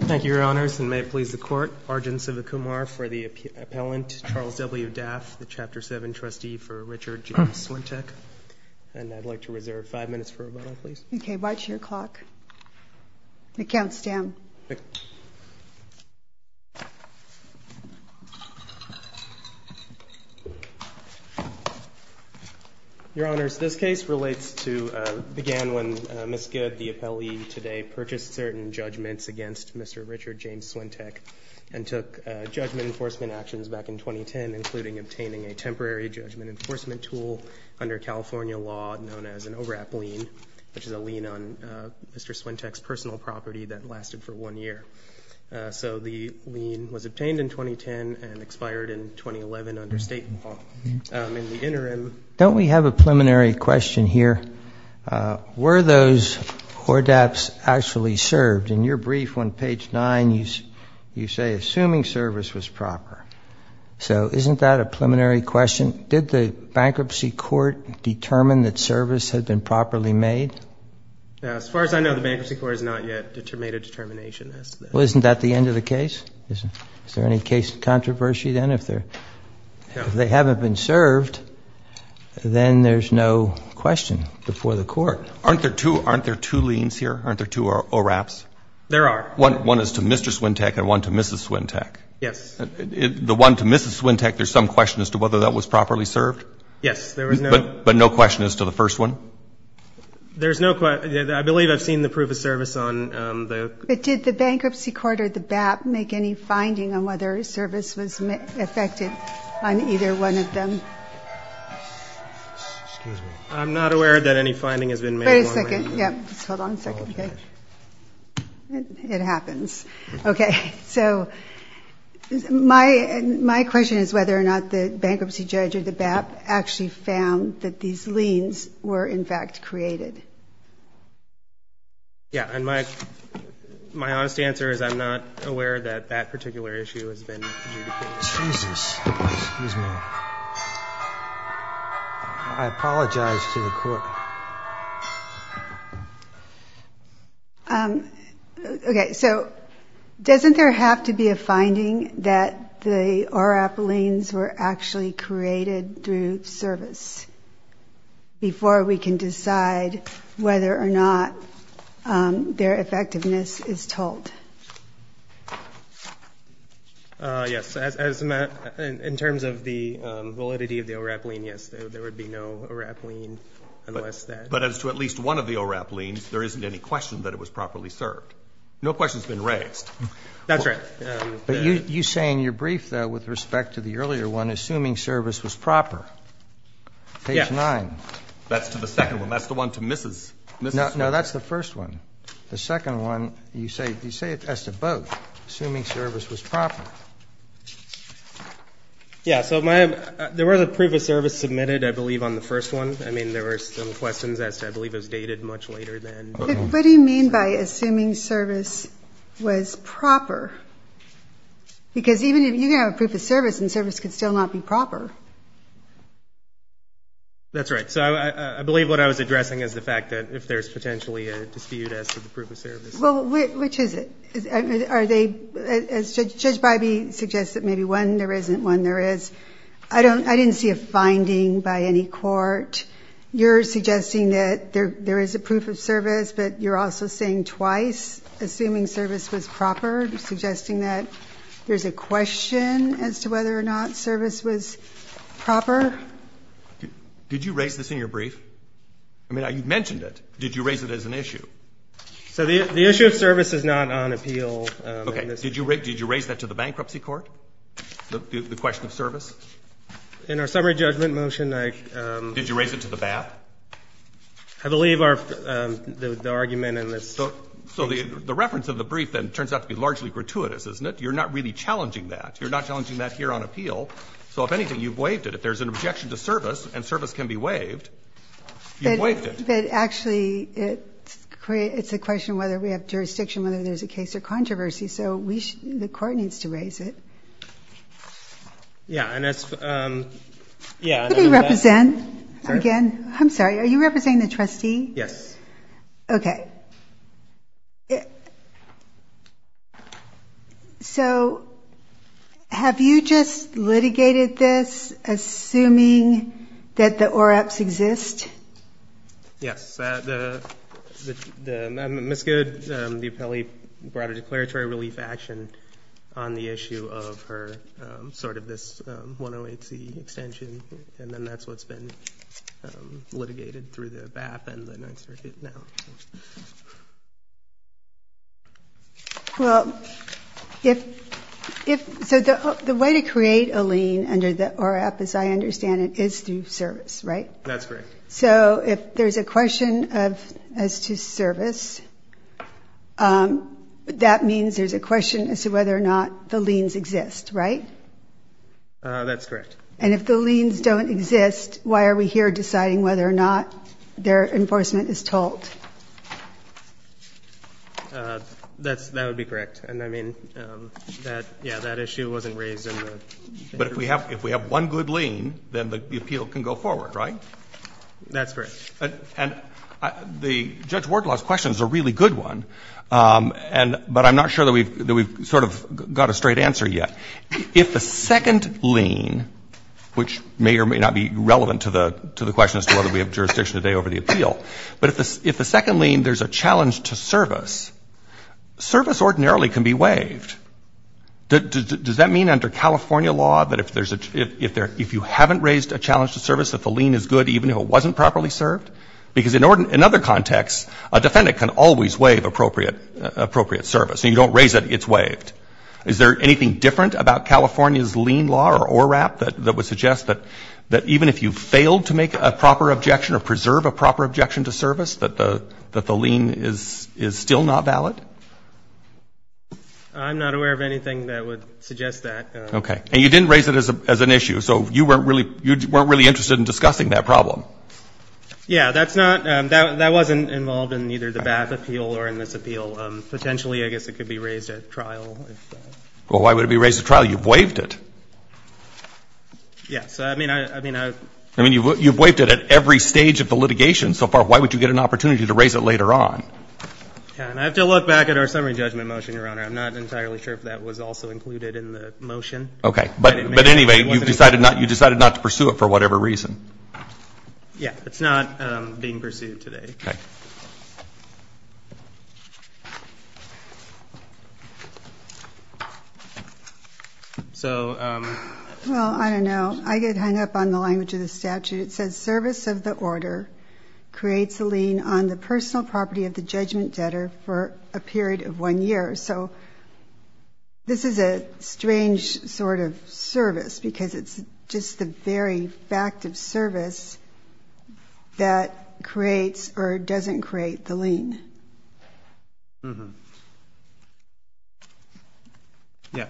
Thank you, Your Honors, and may it please the Court, Arjun Sivakumar for the appellant, Charles W. Daff, the Chapter 7 trustee for Richard J. Swintek. And I'd like to reserve five minutes for rebuttal, please. Okay, watch your clock. It counts down. Okay. Your Honors, this case relates to, began when Ms. Good, the appellee today, purchased certain judgments against Mr. Richard James Swintek and took judgment enforcement actions back in 2010, including obtaining a temporary judgment enforcement tool under California law known as an ORAP lien, which is a lien on Mr. Swintek's personal property that lasted for one year. So the lien was obtained in 2010 and expired in 2011 under state law. In the interim, don't we have a preliminary question here? Were those ORAPs actually served? In your brief on page 9, you say, assuming service was proper. So isn't that a preliminary question? Did the bankruptcy court determine that service had been properly made? As far as I know, the bankruptcy court has not yet made a determination as to that. Well, isn't that the end of the case? Is there any case of controversy then? If they haven't been served, then there's no question before the Court. Aren't there two liens here? Aren't there two ORAPs? There are. One is to Mr. Swintek and one to Mrs. Swintek. Yes. The one to Mrs. Swintek, there's some question as to whether that was properly served? Yes. But no question as to the first one? There's no question. I believe I've seen the proof of service on the ---- But did the bankruptcy court or the BAP make any finding on whether service was affected on either one of them? Excuse me. I'm not aware that any finding has been made on that. Wait a second. Hold on a second. It happens. Okay. So my question is whether or not the bankruptcy judge or the BAP actually found that these liens were, in fact, created. Yes. And my honest answer is I'm not aware that that particular issue has been communicated. Jesus. Excuse me. I apologize to the Court. Okay. So doesn't there have to be a finding that the ORAP liens were actually created through service before we can decide whether or not their effectiveness is told? Yes. In terms of the validity of the ORAP lien, yes, there would be no ORAP lien unless that ---- But as to at least one of the ORAP liens, there isn't any question that it was properly served. No question has been raised. That's right. But you say in your brief, though, with respect to the earlier one, assuming service was proper. Yes. Page 9. That's to the second one. That's the one to Mrs. Smith. No, that's the first one. The second one, you say it as to both, assuming service was proper. Yes. So there was a proof of service submitted, I believe, on the first one. I mean, there were some questions as to I believe it was dated much later than ---- What do you mean by assuming service was proper? Because even if you have a proof of service and service could still not be proper. That's right. So I believe what I was addressing is the fact that if there's potentially a dispute as to the proof of service. Well, which is it? Are they ---- As Judge Bybee suggested, maybe one there isn't, one there is. I don't ---- I didn't see a finding by any court. You're suggesting that there is a proof of service, but you're also saying twice, assuming service was proper, suggesting that there's a question as to whether or not service was proper. Did you raise this in your brief? I mean, you mentioned it. Did you raise it as an issue? So the issue of service is not on appeal. Okay. Did you raise that to the bankruptcy court, the question of service? In our summary judgment motion, I ---- Did you raise it to the BAP? I believe the argument in this ---- So the reference of the brief then turns out to be largely gratuitous, isn't it? You're not really challenging that. You're not challenging that here on appeal. So if anything, you've waived it. If there's an objection to service and service can be waived, you've waived it. But actually, it's a question of whether we have jurisdiction, whether there's a case or controversy. So we should ---- the court needs to raise it. Yeah. And that's ---- Yeah. Could we represent again? I'm sorry. Are you representing the trustee? Yes. Okay. So have you just litigated this assuming that the ORAPs exist? Yes. Ms. Goode, the appellee brought a declaratory relief action on the issue of her sort of this 108C extension, and then that's what's been litigated through the BAP and the Ninth Circuit now. Well, if ---- so the way to create a lien under the ORAP, as I understand it, is through service, right? That's correct. So if there's a question as to service, that means there's a question as to whether or not the liens exist, right? That's correct. And if the liens don't exist, why are we here deciding whether or not their enforcement is told? That would be correct. And, I mean, yeah, that issue wasn't raised in the ---- But if we have one good lien, then the appeal can go forward, right? That's correct. And the Judge Wardlaw's question is a really good one, but I'm not sure that we've sort of got a straight answer yet. If the second lien, which may or may not be relevant to the question as to whether we have jurisdiction today over the appeal, but if the second lien, there's a challenge to service, service ordinarily can be waived. Does that mean under California law that if there's a ---- if you haven't raised a challenge to service, that the lien is good even if it wasn't properly served? Because in other contexts, a defendant can always waive appropriate service. And you don't raise it, it's waived. Is there anything different about California's lien law or ORAP that would suggest that even if you failed to make a proper objection or preserve a proper objection to service, that the lien is still not valid? I'm not aware of anything that would suggest that. Okay. And you didn't raise it as an issue, so you weren't really interested in discussing that problem. Yeah, that's not ---- that wasn't involved in either the BATH appeal or in this appeal. Potentially, I guess it could be raised at trial. Well, why would it be raised at trial? You've waived it. Yes. I mean, I ---- I mean, you've waived it at every stage of the litigation so far. Why would you get an opportunity to raise it later on? I have to look back at our summary judgment motion, Your Honor. I'm not entirely sure if that was also included in the motion. Okay. But anyway, you decided not to pursue it for whatever reason. Yeah. It's not being pursued today. Okay. Thank you. So ---- Well, I don't know. I get hung up on the language of the statute. It says service of the order creates a lien on the personal property of the judgment debtor for a period of one year. So this is a strange sort of service because it's just the very fact of service that creates or doesn't create the lien. Yeah.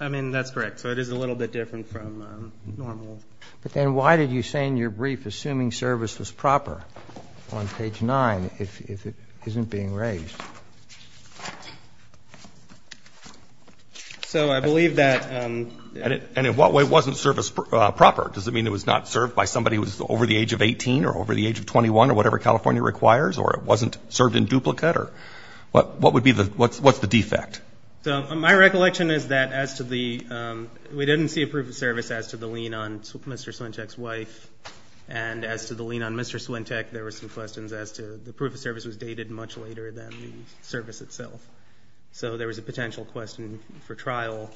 I mean, that's correct. So it is a little bit different from normal. But then why did you say in your brief assuming service was proper on page 9 if it isn't being raised? So I believe that ---- And in what way wasn't service proper? Does it mean it was not served by somebody who was over the age of 18 or over the age of 21 or whatever California requires or it wasn't served in duplicate or what would be the ---- what's the defect? So my recollection is that as to the ---- we didn't see a proof of service as to the lien on Mr. Swintek's wife. And as to the lien on Mr. Swintek, there were some questions as to the proof of service was dated much later than the service itself. So there was a potential question for trial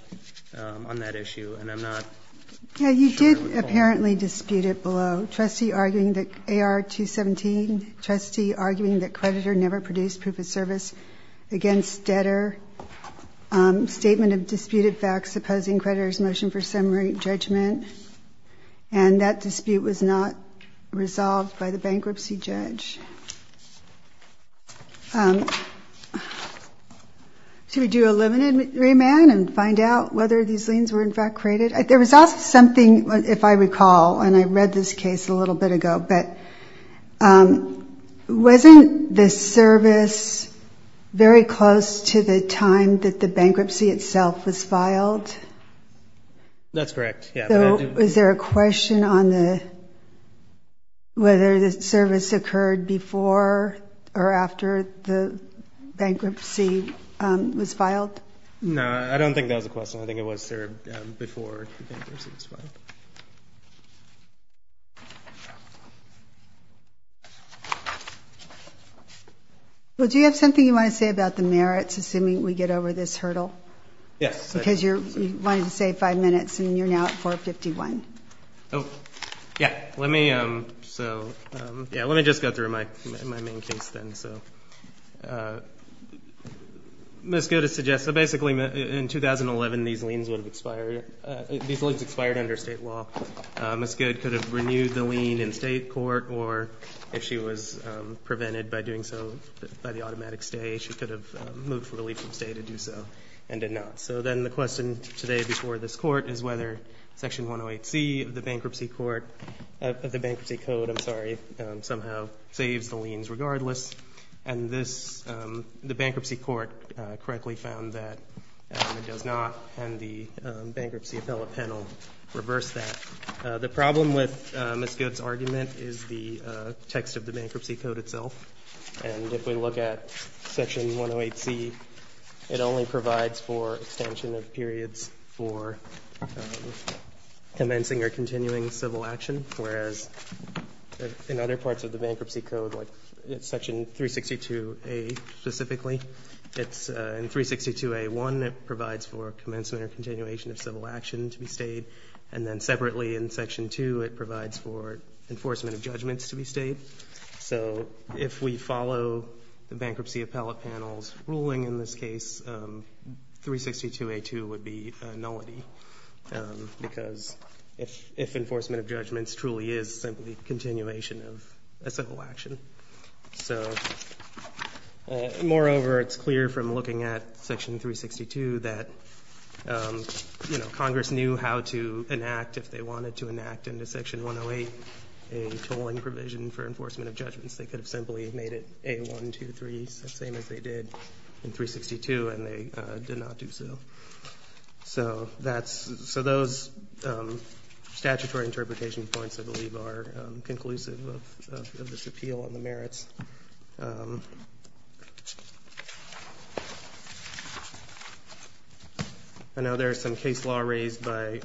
on that issue. And I'm not ---- Yeah, you did apparently dispute it below. AR-217, trustee arguing that creditor never produced proof of service against debtor. Statement of disputed facts opposing creditor's motion for summary judgment. And that dispute was not resolved by the bankruptcy judge. Should we do a limited remand and find out whether these liens were in fact created? There was also something, if I recall, and I read this case a little bit ago, but wasn't the service very close to the time that the bankruptcy itself was filed? That's correct, yeah. So was there a question on the ---- whether the service occurred before or after the bankruptcy was filed? No, I don't think that was a question. I think it was there before the bankruptcy was filed. Well, do you have something you want to say about the merits, assuming we get over this hurdle? Yes. Because you wanted to save five minutes, and you're now at 4.51. Oh, yeah. Let me just go through my main case then. So Ms. Goode suggests that basically in 2011, these liens would have expired. These liens expired under state law. Ms. Goode could have renewed the lien in state court, or if she was prevented by doing so by the automatic stay, she could have moved for relief from state and do so and did not. So then the question today before this court is whether Section 108C of the bankruptcy court, of the bankruptcy code, I'm sorry, somehow saves the liens regardless. And this, the bankruptcy court correctly found that it does not, and the bankruptcy appellate panel reversed that. The problem with Ms. Goode's argument is the text of the bankruptcy code itself. And if we look at Section 108C, it only provides for extension of periods for commencing or continuing civil action, whereas in other parts of the bankruptcy code, like Section 362A specifically, it's in 362A1, it provides for commencement or continuation of civil action to be stayed. And then separately in Section 2, it provides for enforcement of judgments to be stayed. So if we follow the bankruptcy appellate panel's ruling in this case, 362A2 would be a nullity, because if enforcement of judgments truly is simply continuation of a civil action. So moreover, it's clear from looking at Section 362 that, you know, they could have simply made it A123, same as they did in 362, and they did not do so. So that's, so those statutory interpretation points, I believe, are conclusive of this appeal on the merits. I know there's some case law raised by,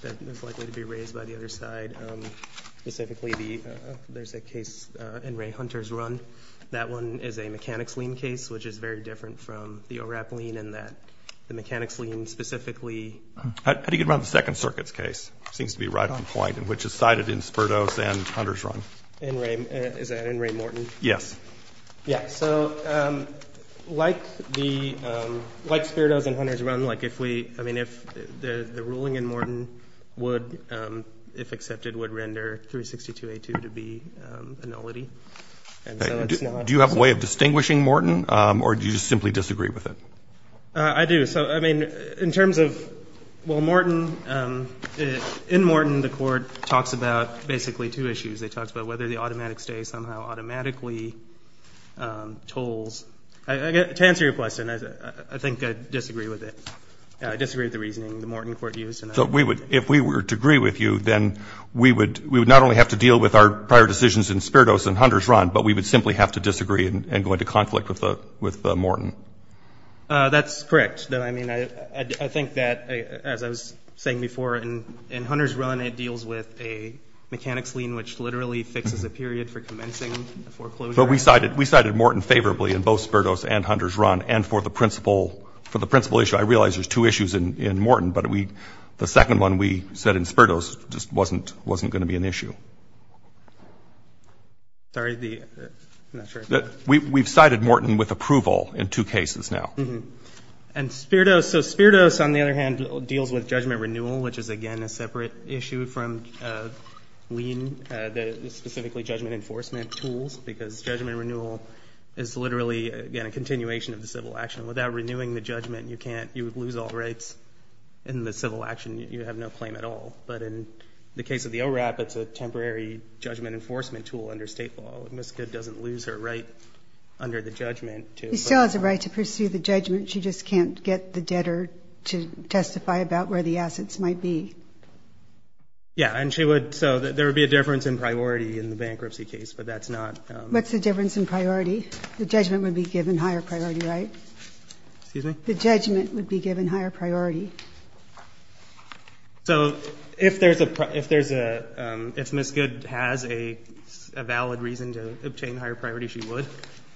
that is likely to be raised by the other side. Specifically the, there's a case in Ray Hunter's run. That one is a mechanics lien case, which is very different from the ORAP lien in that the mechanics lien specifically. How do you get around the Second Circuit's case? It seems to be right on point, and which is cited in Sperdos and Hunter's run. In Ray, is that in Ray Morton? Yes. Yeah, so like the, like Sperdos and Hunter's run, like if we, I mean, if the ruling in Morton would, if accepted, would render 362A2 to be a nullity. And so it's not. Do you have a way of distinguishing Morton, or do you just simply disagree with it? I do. So, I mean, in terms of, well, Morton, in Morton the Court talks about basically two issues. It talks about whether the automatic stay somehow automatically tolls. To answer your question, I think I disagree with it. I disagree with the reasoning the Morton Court used. So if we were to agree with you, then we would not only have to deal with our prior decisions in Sperdos and Hunter's run, but we would simply have to disagree and go into conflict with Morton. That's correct. I mean, I think that, as I was saying before, in Hunter's run it deals with a mechanics lien, which literally fixes a period for commencing a foreclosure. But we cited Morton favorably in both Sperdos and Hunter's run, and for the principal issue. I realize there's two issues in Morton, but the second one we said in Sperdos just wasn't going to be an issue. Sorry, I'm not sure. We've cited Morton with approval in two cases now. And Sperdos. So Sperdos, on the other hand, deals with judgment renewal, which is, again, a separate issue from lien, specifically judgment enforcement tools, because judgment renewal is literally, again, a continuation of the civil action. Without renewing the judgment, you would lose all rights. In the civil action, you have no claim at all. But in the case of the ORAP, it's a temporary judgment enforcement tool under state law. Ms. Goode doesn't lose her right under the judgment. She still has a right to pursue the judgment. She just can't get the debtor to testify about where the assets might be. Yeah, and she would. So there would be a difference in priority in the bankruptcy case, but that's not. What's the difference in priority? The judgment would be given higher priority, right? Excuse me? The judgment would be given higher priority. So if there's a ‑‑ if Ms. Goode has a valid reason to obtain higher priority, she would.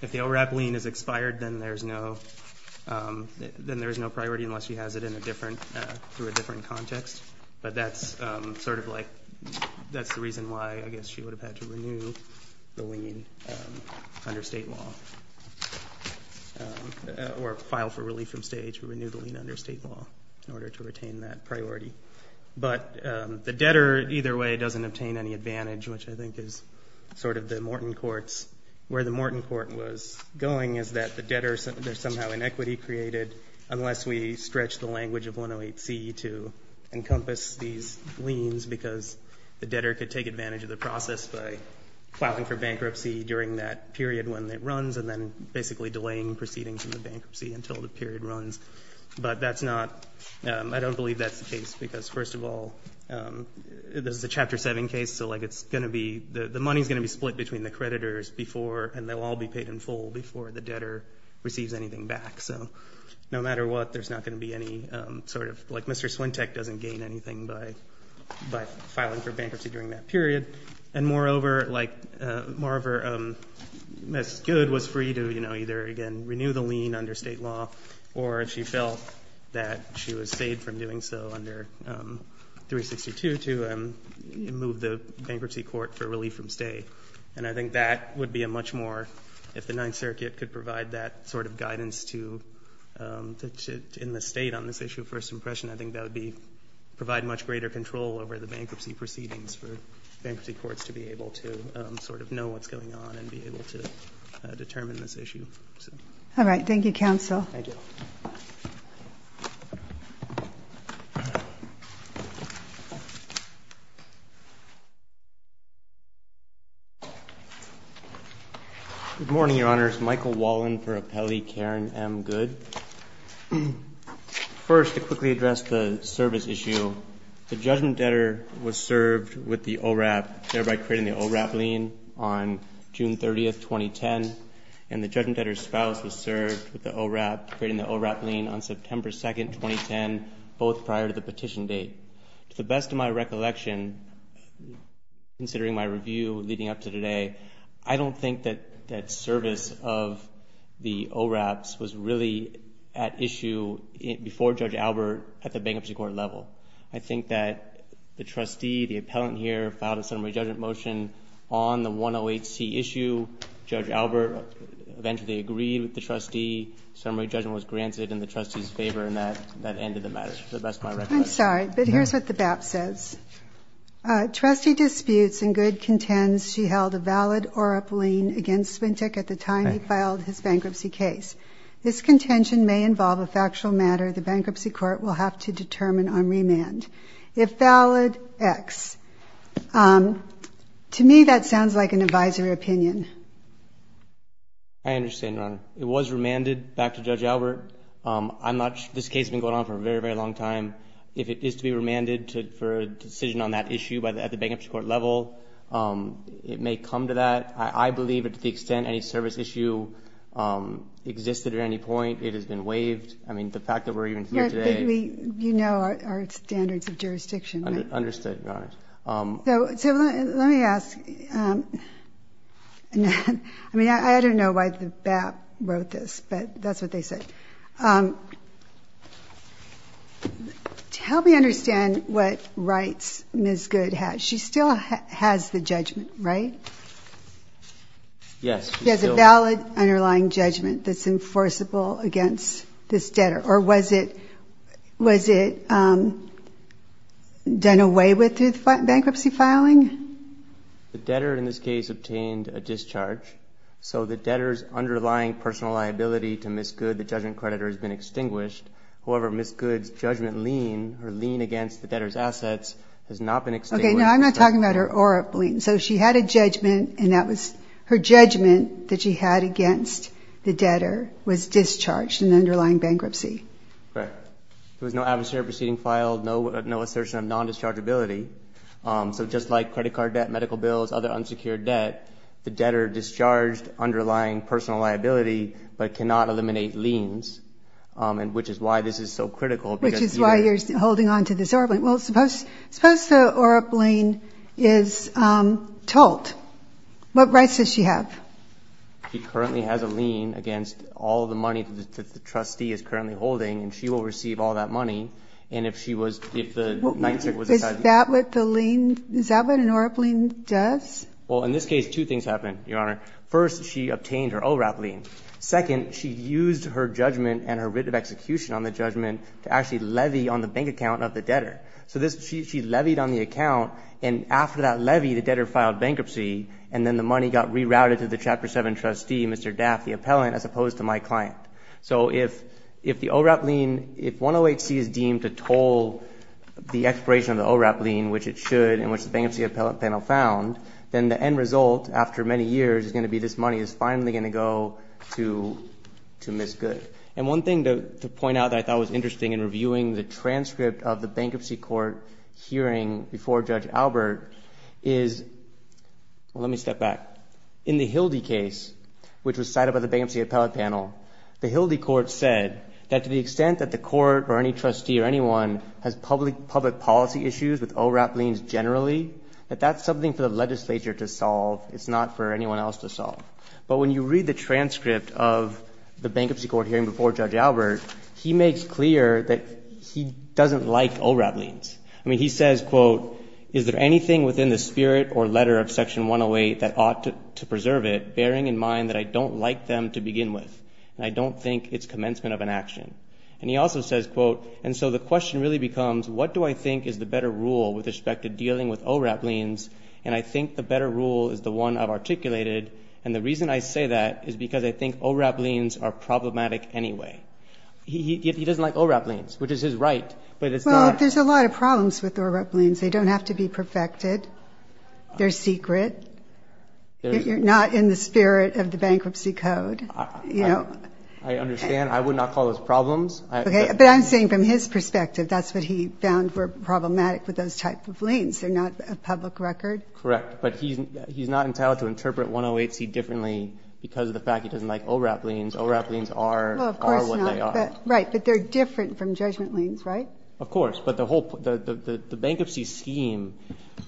If the ORAP lien is expired, then there's no priority unless she has it in a different ‑‑ through a different context. But that's sort of like ‑‑ that's the reason why I guess she would have had to renew the lien under state law. Or file for relief from state to renew the lien under state law in order to retain that priority. But the debtor either way doesn't obtain any advantage, which I think is sort of the Morton courts. Where the Morton court was going is that the debtor, there's somehow inequity created unless we stretch the language of 108C to encompass these liens because the debtor could take advantage of the process by filing for bankruptcy during that period when it runs and then basically delaying proceedings in the bankruptcy until the period runs. But that's not ‑‑ I don't believe that's the case because first of all, this is a Chapter 7 case, so like it's going to be ‑‑ the money is going to be split between the creditors before and they'll all be paid in full before the debtor receives anything back. So no matter what, there's not going to be any sort of ‑‑ like Mr. Swintek doesn't gain anything by filing for bankruptcy during that period. And moreover, Ms. Goode was free to either, again, renew the lien under state law or if she felt that she was saved from doing so under 362 to move the bankruptcy court for relief from stay. And I think that would be a much more, if the Ninth Circuit could provide that sort of guidance in the state on this issue of first impression, I think that would provide much greater control over the bankruptcy proceedings for bankruptcy courts to be able to sort of know what's going on and be able to determine this issue. All right. Thank you, counsel. Thank you. Good morning, Your Honors. Michael Wallin for Appellee Karen M. Goode. First, to quickly address the service issue, the judgment debtor was served with the ORAP, thereby creating the ORAP lien on June 30th, 2010, and the judgment debtor's spouse was served with the ORAP, creating the ORAP lien on September 2nd, 2010, both prior to the petition date. To the best of my recollection, considering my review leading up to today, I don't think that that service of the ORAPs was really at issue before Judge Albert at the bankruptcy court level. I think that the trustee, the appellant here, filed a summary judgment motion on the 108C issue. Judge Albert eventually agreed with the trustee. Summary judgment was granted in the trustee's favor in that end of the matter, to the best of my recollection. I'm sorry, but here's what the BAP says. Trustee disputes and Goode contends she held a valid ORAP lien against Swintik at the time he filed his bankruptcy case. This contention may involve a factual matter the bankruptcy court will have to determine on remand. If valid, X. To me, that sounds like an advisory opinion. I understand, Your Honor. It was remanded back to Judge Albert. This case has been going on for a very, very long time. If it is to be remanded for a decision on that issue at the bankruptcy court level, it may come to that. I believe to the extent any service issue existed at any point, it has been waived. I mean, the fact that we're even here today. You know our standards of jurisdiction. Understood, Your Honor. So let me ask. I mean, I don't know why the BAP wrote this, but that's what they said. Help me understand what rights Ms. Goode has. She still has the judgment, right? Yes. She has a valid underlying judgment that's enforceable against this debtor. Or was it done away with through the bankruptcy filing? The debtor, in this case, obtained a discharge. So the debtor's underlying personal liability to Ms. Goode, the judgment creditor, has been extinguished. However, Ms. Goode's judgment lien, her lien against the debtor's assets, has not been extinguished. Okay, now I'm not talking about her ORA lien. So she had a judgment, and that was her judgment that she had against the debtor was discharged in the underlying bankruptcy. Correct. There was no adversarial proceeding filed, no assertion of non-dischargeability. So just like credit card debt, medical bills, other unsecured debt, the debtor discharged underlying personal liability but cannot eliminate liens, which is why this is so critical. Which is why you're holding on to this ORA lien. Well, suppose the ORA lien is told. What rights does she have? She currently has a lien against all the money that the trustee is currently holding, and she will receive all that money. And if she was, if the night shift was decided. Is that what the lien, is that what an ORA lien does? Well, in this case, two things happened, Your Honor. First, she obtained her ORA lien. Second, she used her judgment and her writ of execution on the judgment to actually So this, she levied on the account, and after that levy, the debtor filed bankruptcy, and then the money got rerouted to the Chapter 7 trustee, Mr. Daff, the appellant, as opposed to my client. So if the ORA lien, if 108C is deemed to toll the expiration of the ORA lien, which it should, and which the bankruptcy appellant panel found, then the end result, after many years, is going to be this money is finally going to go to Ms. Goode. And one thing to point out that I thought was interesting in reviewing the transcript of the bankruptcy court hearing before Judge Albert is, well, let me step back. In the Hildy case, which was cited by the bankruptcy appellate panel, the Hildy court said that to the extent that the court or any trustee or anyone has public policy issues with ORAP liens generally, that that's something for the legislature to solve. It's not for anyone else to solve. But when you read the transcript of the bankruptcy court hearing before Judge Albert, he makes clear that he doesn't like ORAP liens. I mean, he says, quote, is there anything within the spirit or letter of Section 108 that ought to preserve it, bearing in mind that I don't like them to begin with and I don't think it's commencement of an action? And he also says, quote, and so the question really becomes, what do I think is the better rule with respect to dealing with ORAP liens, and I think the better rule is the one I've articulated, and the reason I say that is because I think ORAP liens are problematic anyway. He doesn't like ORAP liens, which is his right, but it's not. Well, there's a lot of problems with ORAP liens. They don't have to be perfected. They're secret. They're not in the spirit of the bankruptcy code. I understand. I would not call those problems. But I'm saying from his perspective, that's what he found were problematic with those type of liens. They're not a public record. Correct, but he's not entitled to interpret 108C differently because of the fact he doesn't like ORAP liens. ORAP liens are what they are. Right, but they're different from judgment liens, right? Of course, but the whole bankruptcy scheme,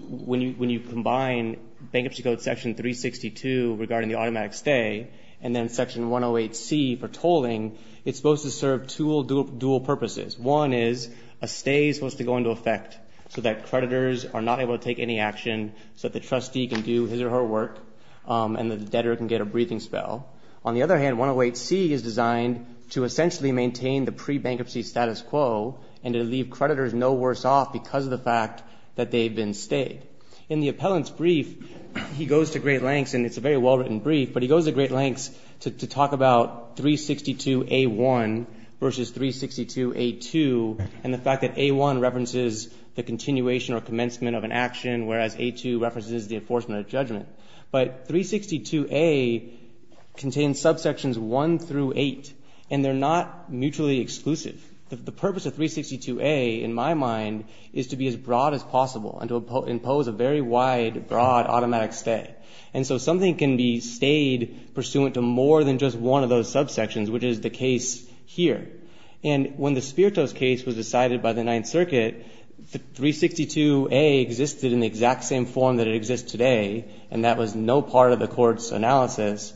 when you combine Bankruptcy Code Section 362 regarding the automatic stay and then Section 108C for tolling, it's supposed to serve two dual purposes. One is a stay is supposed to go into effect so that creditors are not able to take any action so that the trustee can do his or her work and the debtor can get a breathing spell. On the other hand, 108C is designed to essentially maintain the pre-bankruptcy status quo and to leave creditors no worse off because of the fact that they've been stayed. In the appellant's brief, he goes to great lengths, and it's a very well-written brief, but he goes to great lengths to talk about 362A1 versus 362A2 and the fact that A1 references the continuation or commencement of an action, whereas A2 references the enforcement of judgment. But 362A contains subsections 1 through 8, and they're not mutually exclusive. The purpose of 362A, in my mind, is to be as broad as possible and to impose a very wide, broad automatic stay. And so something can be stayed pursuant to more than just one of those subsections, which is the case here. And when the Spiritos case was decided by the Ninth Circuit, 362A existed in the exact same form that it exists today, and that was no part of the court's analysis.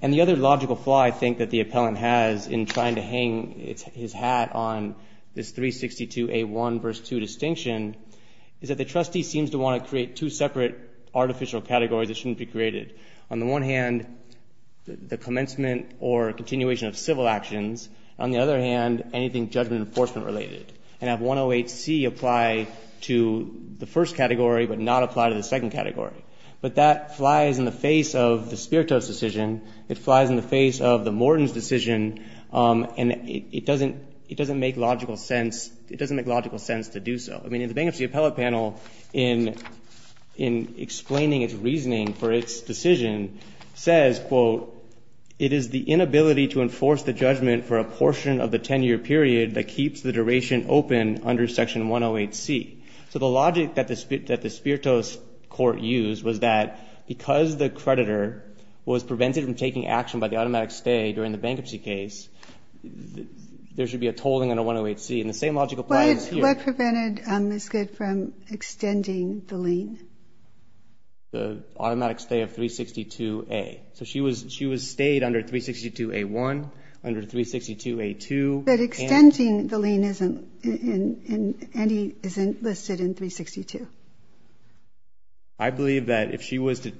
And the other logical flaw I think that the appellant has in trying to hang his hat on this 362A1 verse 2 distinction is that the trustee seems to want to create two separate artificial categories that shouldn't be created. On the one hand, the commencement or continuation of civil actions. On the other hand, anything judgment enforcement related. And have 108C apply to the first category but not apply to the second category. But that flies in the face of the Spiritos decision. It flies in the face of the Morton's decision, and it doesn't make logical sense to do so. I mean, in the Bankruptcy Appellate Panel, in explaining its reasoning for its decision, says, quote, it is the inability to enforce the judgment for a portion of the 10-year period that keeps the duration open under Section 108C. So the logic that the Spiritos court used was that because the creditor was prevented from taking action by the automatic stay during the bankruptcy case, there should be a tolling under 108C. And the same logic applies here. So what prevented Ms. Goode from extending the lien? The automatic stay of 362A. So she was stayed under 362A1, under 362A2. But extending the lien isn't listed in 362. I believe that if she was to,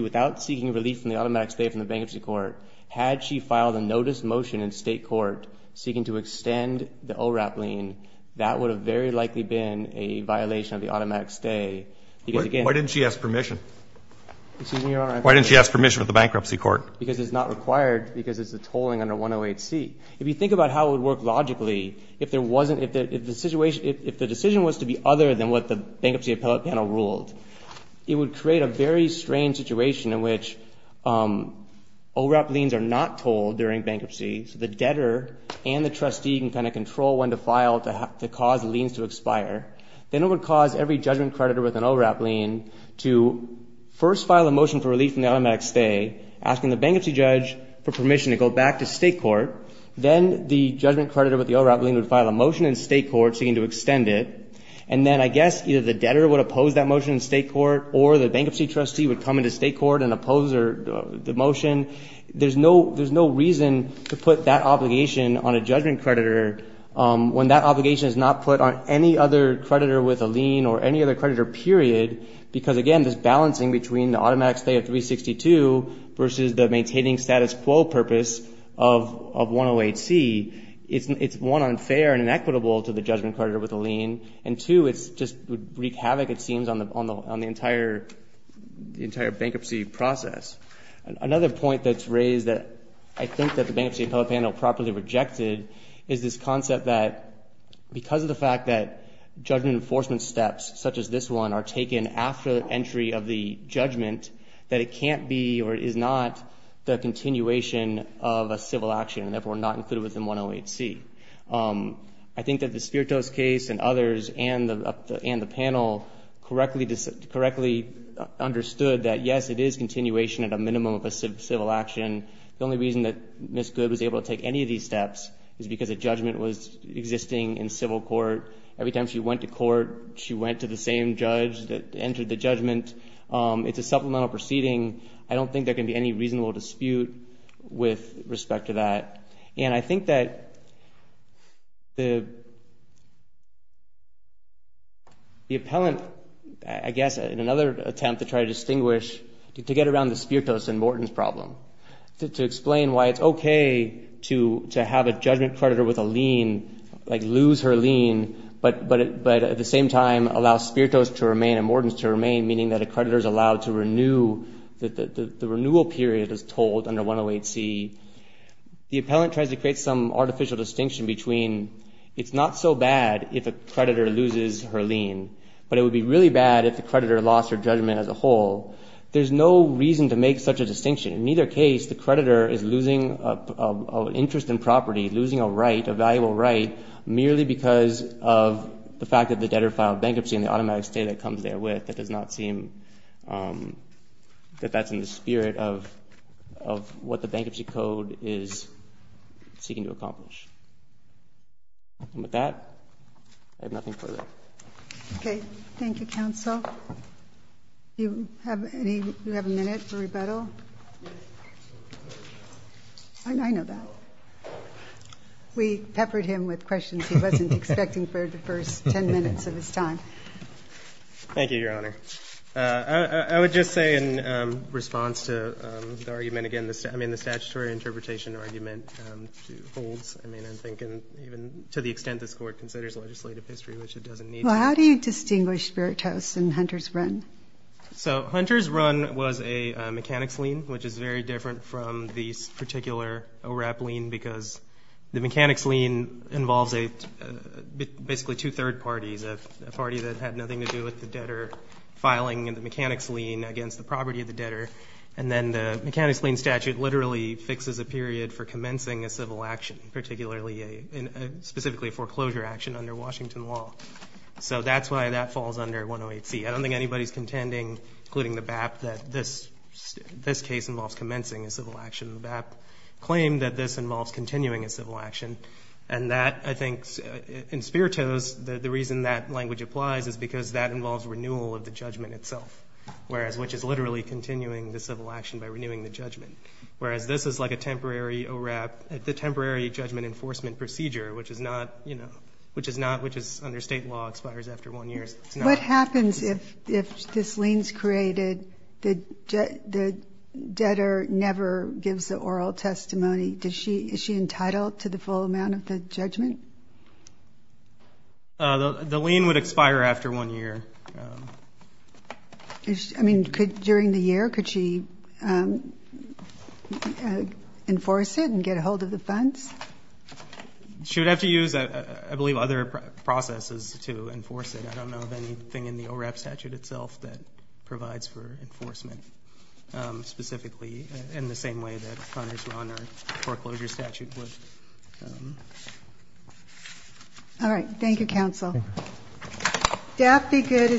without seeking relief from the automatic stay from the bankruptcy court, had she filed a notice motion in state court seeking to extend the ORAP lien, that would have very likely been a violation of the automatic stay. Why didn't she ask permission? Excuse me, Your Honor. Why didn't she ask permission of the bankruptcy court? Because it's not required because it's a tolling under 108C. If you think about how it would work logically, if the decision was to be other than what the Bankruptcy Appellate Panel ruled, it would create a very strange situation in which ORAP liens are not tolled during bankruptcy, so the debtor and the trustee can kind of control when to file to cause liens to expire. Then it would cause every judgment creditor with an ORAP lien to first file a motion for relief from the automatic stay, asking the bankruptcy judge for permission to go back to state court. Then the judgment creditor with the ORAP lien would file a motion in state court seeking to extend it. And then I guess either the debtor would oppose that motion in state court or the bankruptcy trustee would come into state court and oppose the motion. There's no reason to put that obligation on a judgment creditor when that obligation is not put on any other creditor with a lien or any other creditor, period, because, again, this balancing between the automatic stay of 362 versus the maintaining status quo purpose of 108C, it's, one, unfair and inequitable to the judgment creditor with a lien, and, two, it just would wreak havoc, it seems, on the entire bankruptcy process. Another point that's raised that I think that the Bankruptcy Appellate Panel properly rejected is this concept that because of the fact that judgment enforcement steps, such as this one, are taken after the entry of the judgment, that it can't be or is not the continuation of a civil action and, therefore, not included within 108C. I think that the Spiritos case and others and the panel correctly understood that, yes, it is continuation at a minimum of a civil action. The only reason that Ms. Good was able to take any of these steps is because a judgment was existing in civil court. Every time she went to court, she went to the same judge that entered the judgment. It's a supplemental proceeding. I don't think there can be any reasonable dispute with respect to that. And I think that the appellant, I guess, in another attempt to try to distinguish, to get around the Spiritos and Morton's problem, to explain why it's okay to have a judgment creditor with a lien, like lose her lien, but at the same time allow Spiritos to remain and Morton's to remain, meaning that a creditor is allowed to renew, the renewal period is told under 108C. The appellant tries to create some artificial distinction between it's not so bad if a creditor loses her lien, but it would be really bad if the creditor lost her judgment as a whole. There's no reason to make such a distinction. In either case, the creditor is losing an interest in property, losing a right, a valuable right, merely because of the fact that the debtor filed bankruptcy and the automatic stay that comes there with. That does not seem that that's in the spirit of what the Bankruptcy Code is seeking to accomplish. With that, I have nothing further. Okay. Thank you, Counsel. Do you have a minute for rebuttal? I know that. We peppered him with questions he wasn't expecting for the first ten minutes of his time. Thank you, Your Honor. I would just say in response to the argument again, I mean, the statutory interpretation argument holds. I mean, I'm thinking even to the extent this Court considers legislative history, which it doesn't need to. Well, how do you distinguish Spiritos and Hunter's run? So Hunter's run was a mechanics lien, which is very different from the particular ORAP lien because the mechanics lien involves basically two third parties, a party that had nothing to do with the debtor filing and the mechanics lien against the property of the debtor. And then the mechanics lien statute literally fixes a period for commencing a civil action, specifically a foreclosure action under Washington law. So that's why that falls under 108C. I don't think anybody's contending, including the BAP, that this case involves commencing a civil action. The BAP claim that this involves continuing a civil action. And that, I think, in Spiritos, the reason that language applies is because that involves renewal of the judgment itself, which is literally continuing the civil action by renewing the judgment. Whereas this is like a temporary ORAP, the temporary judgment enforcement procedure, which is under state law expires after one year. What happens if this lien's created, the debtor never gives the oral testimony? Is she entitled to the full amount of the judgment? The lien would expire after one year. I mean, during the year, could she enforce it and get a hold of the funds? She would have to use, I believe, other processes to enforce it. I don't know of anything in the ORAP statute itself that provides for enforcement specifically, in the same way that Connors-Rauner foreclosure statute would. All right. Thank you, counsel. Thank you.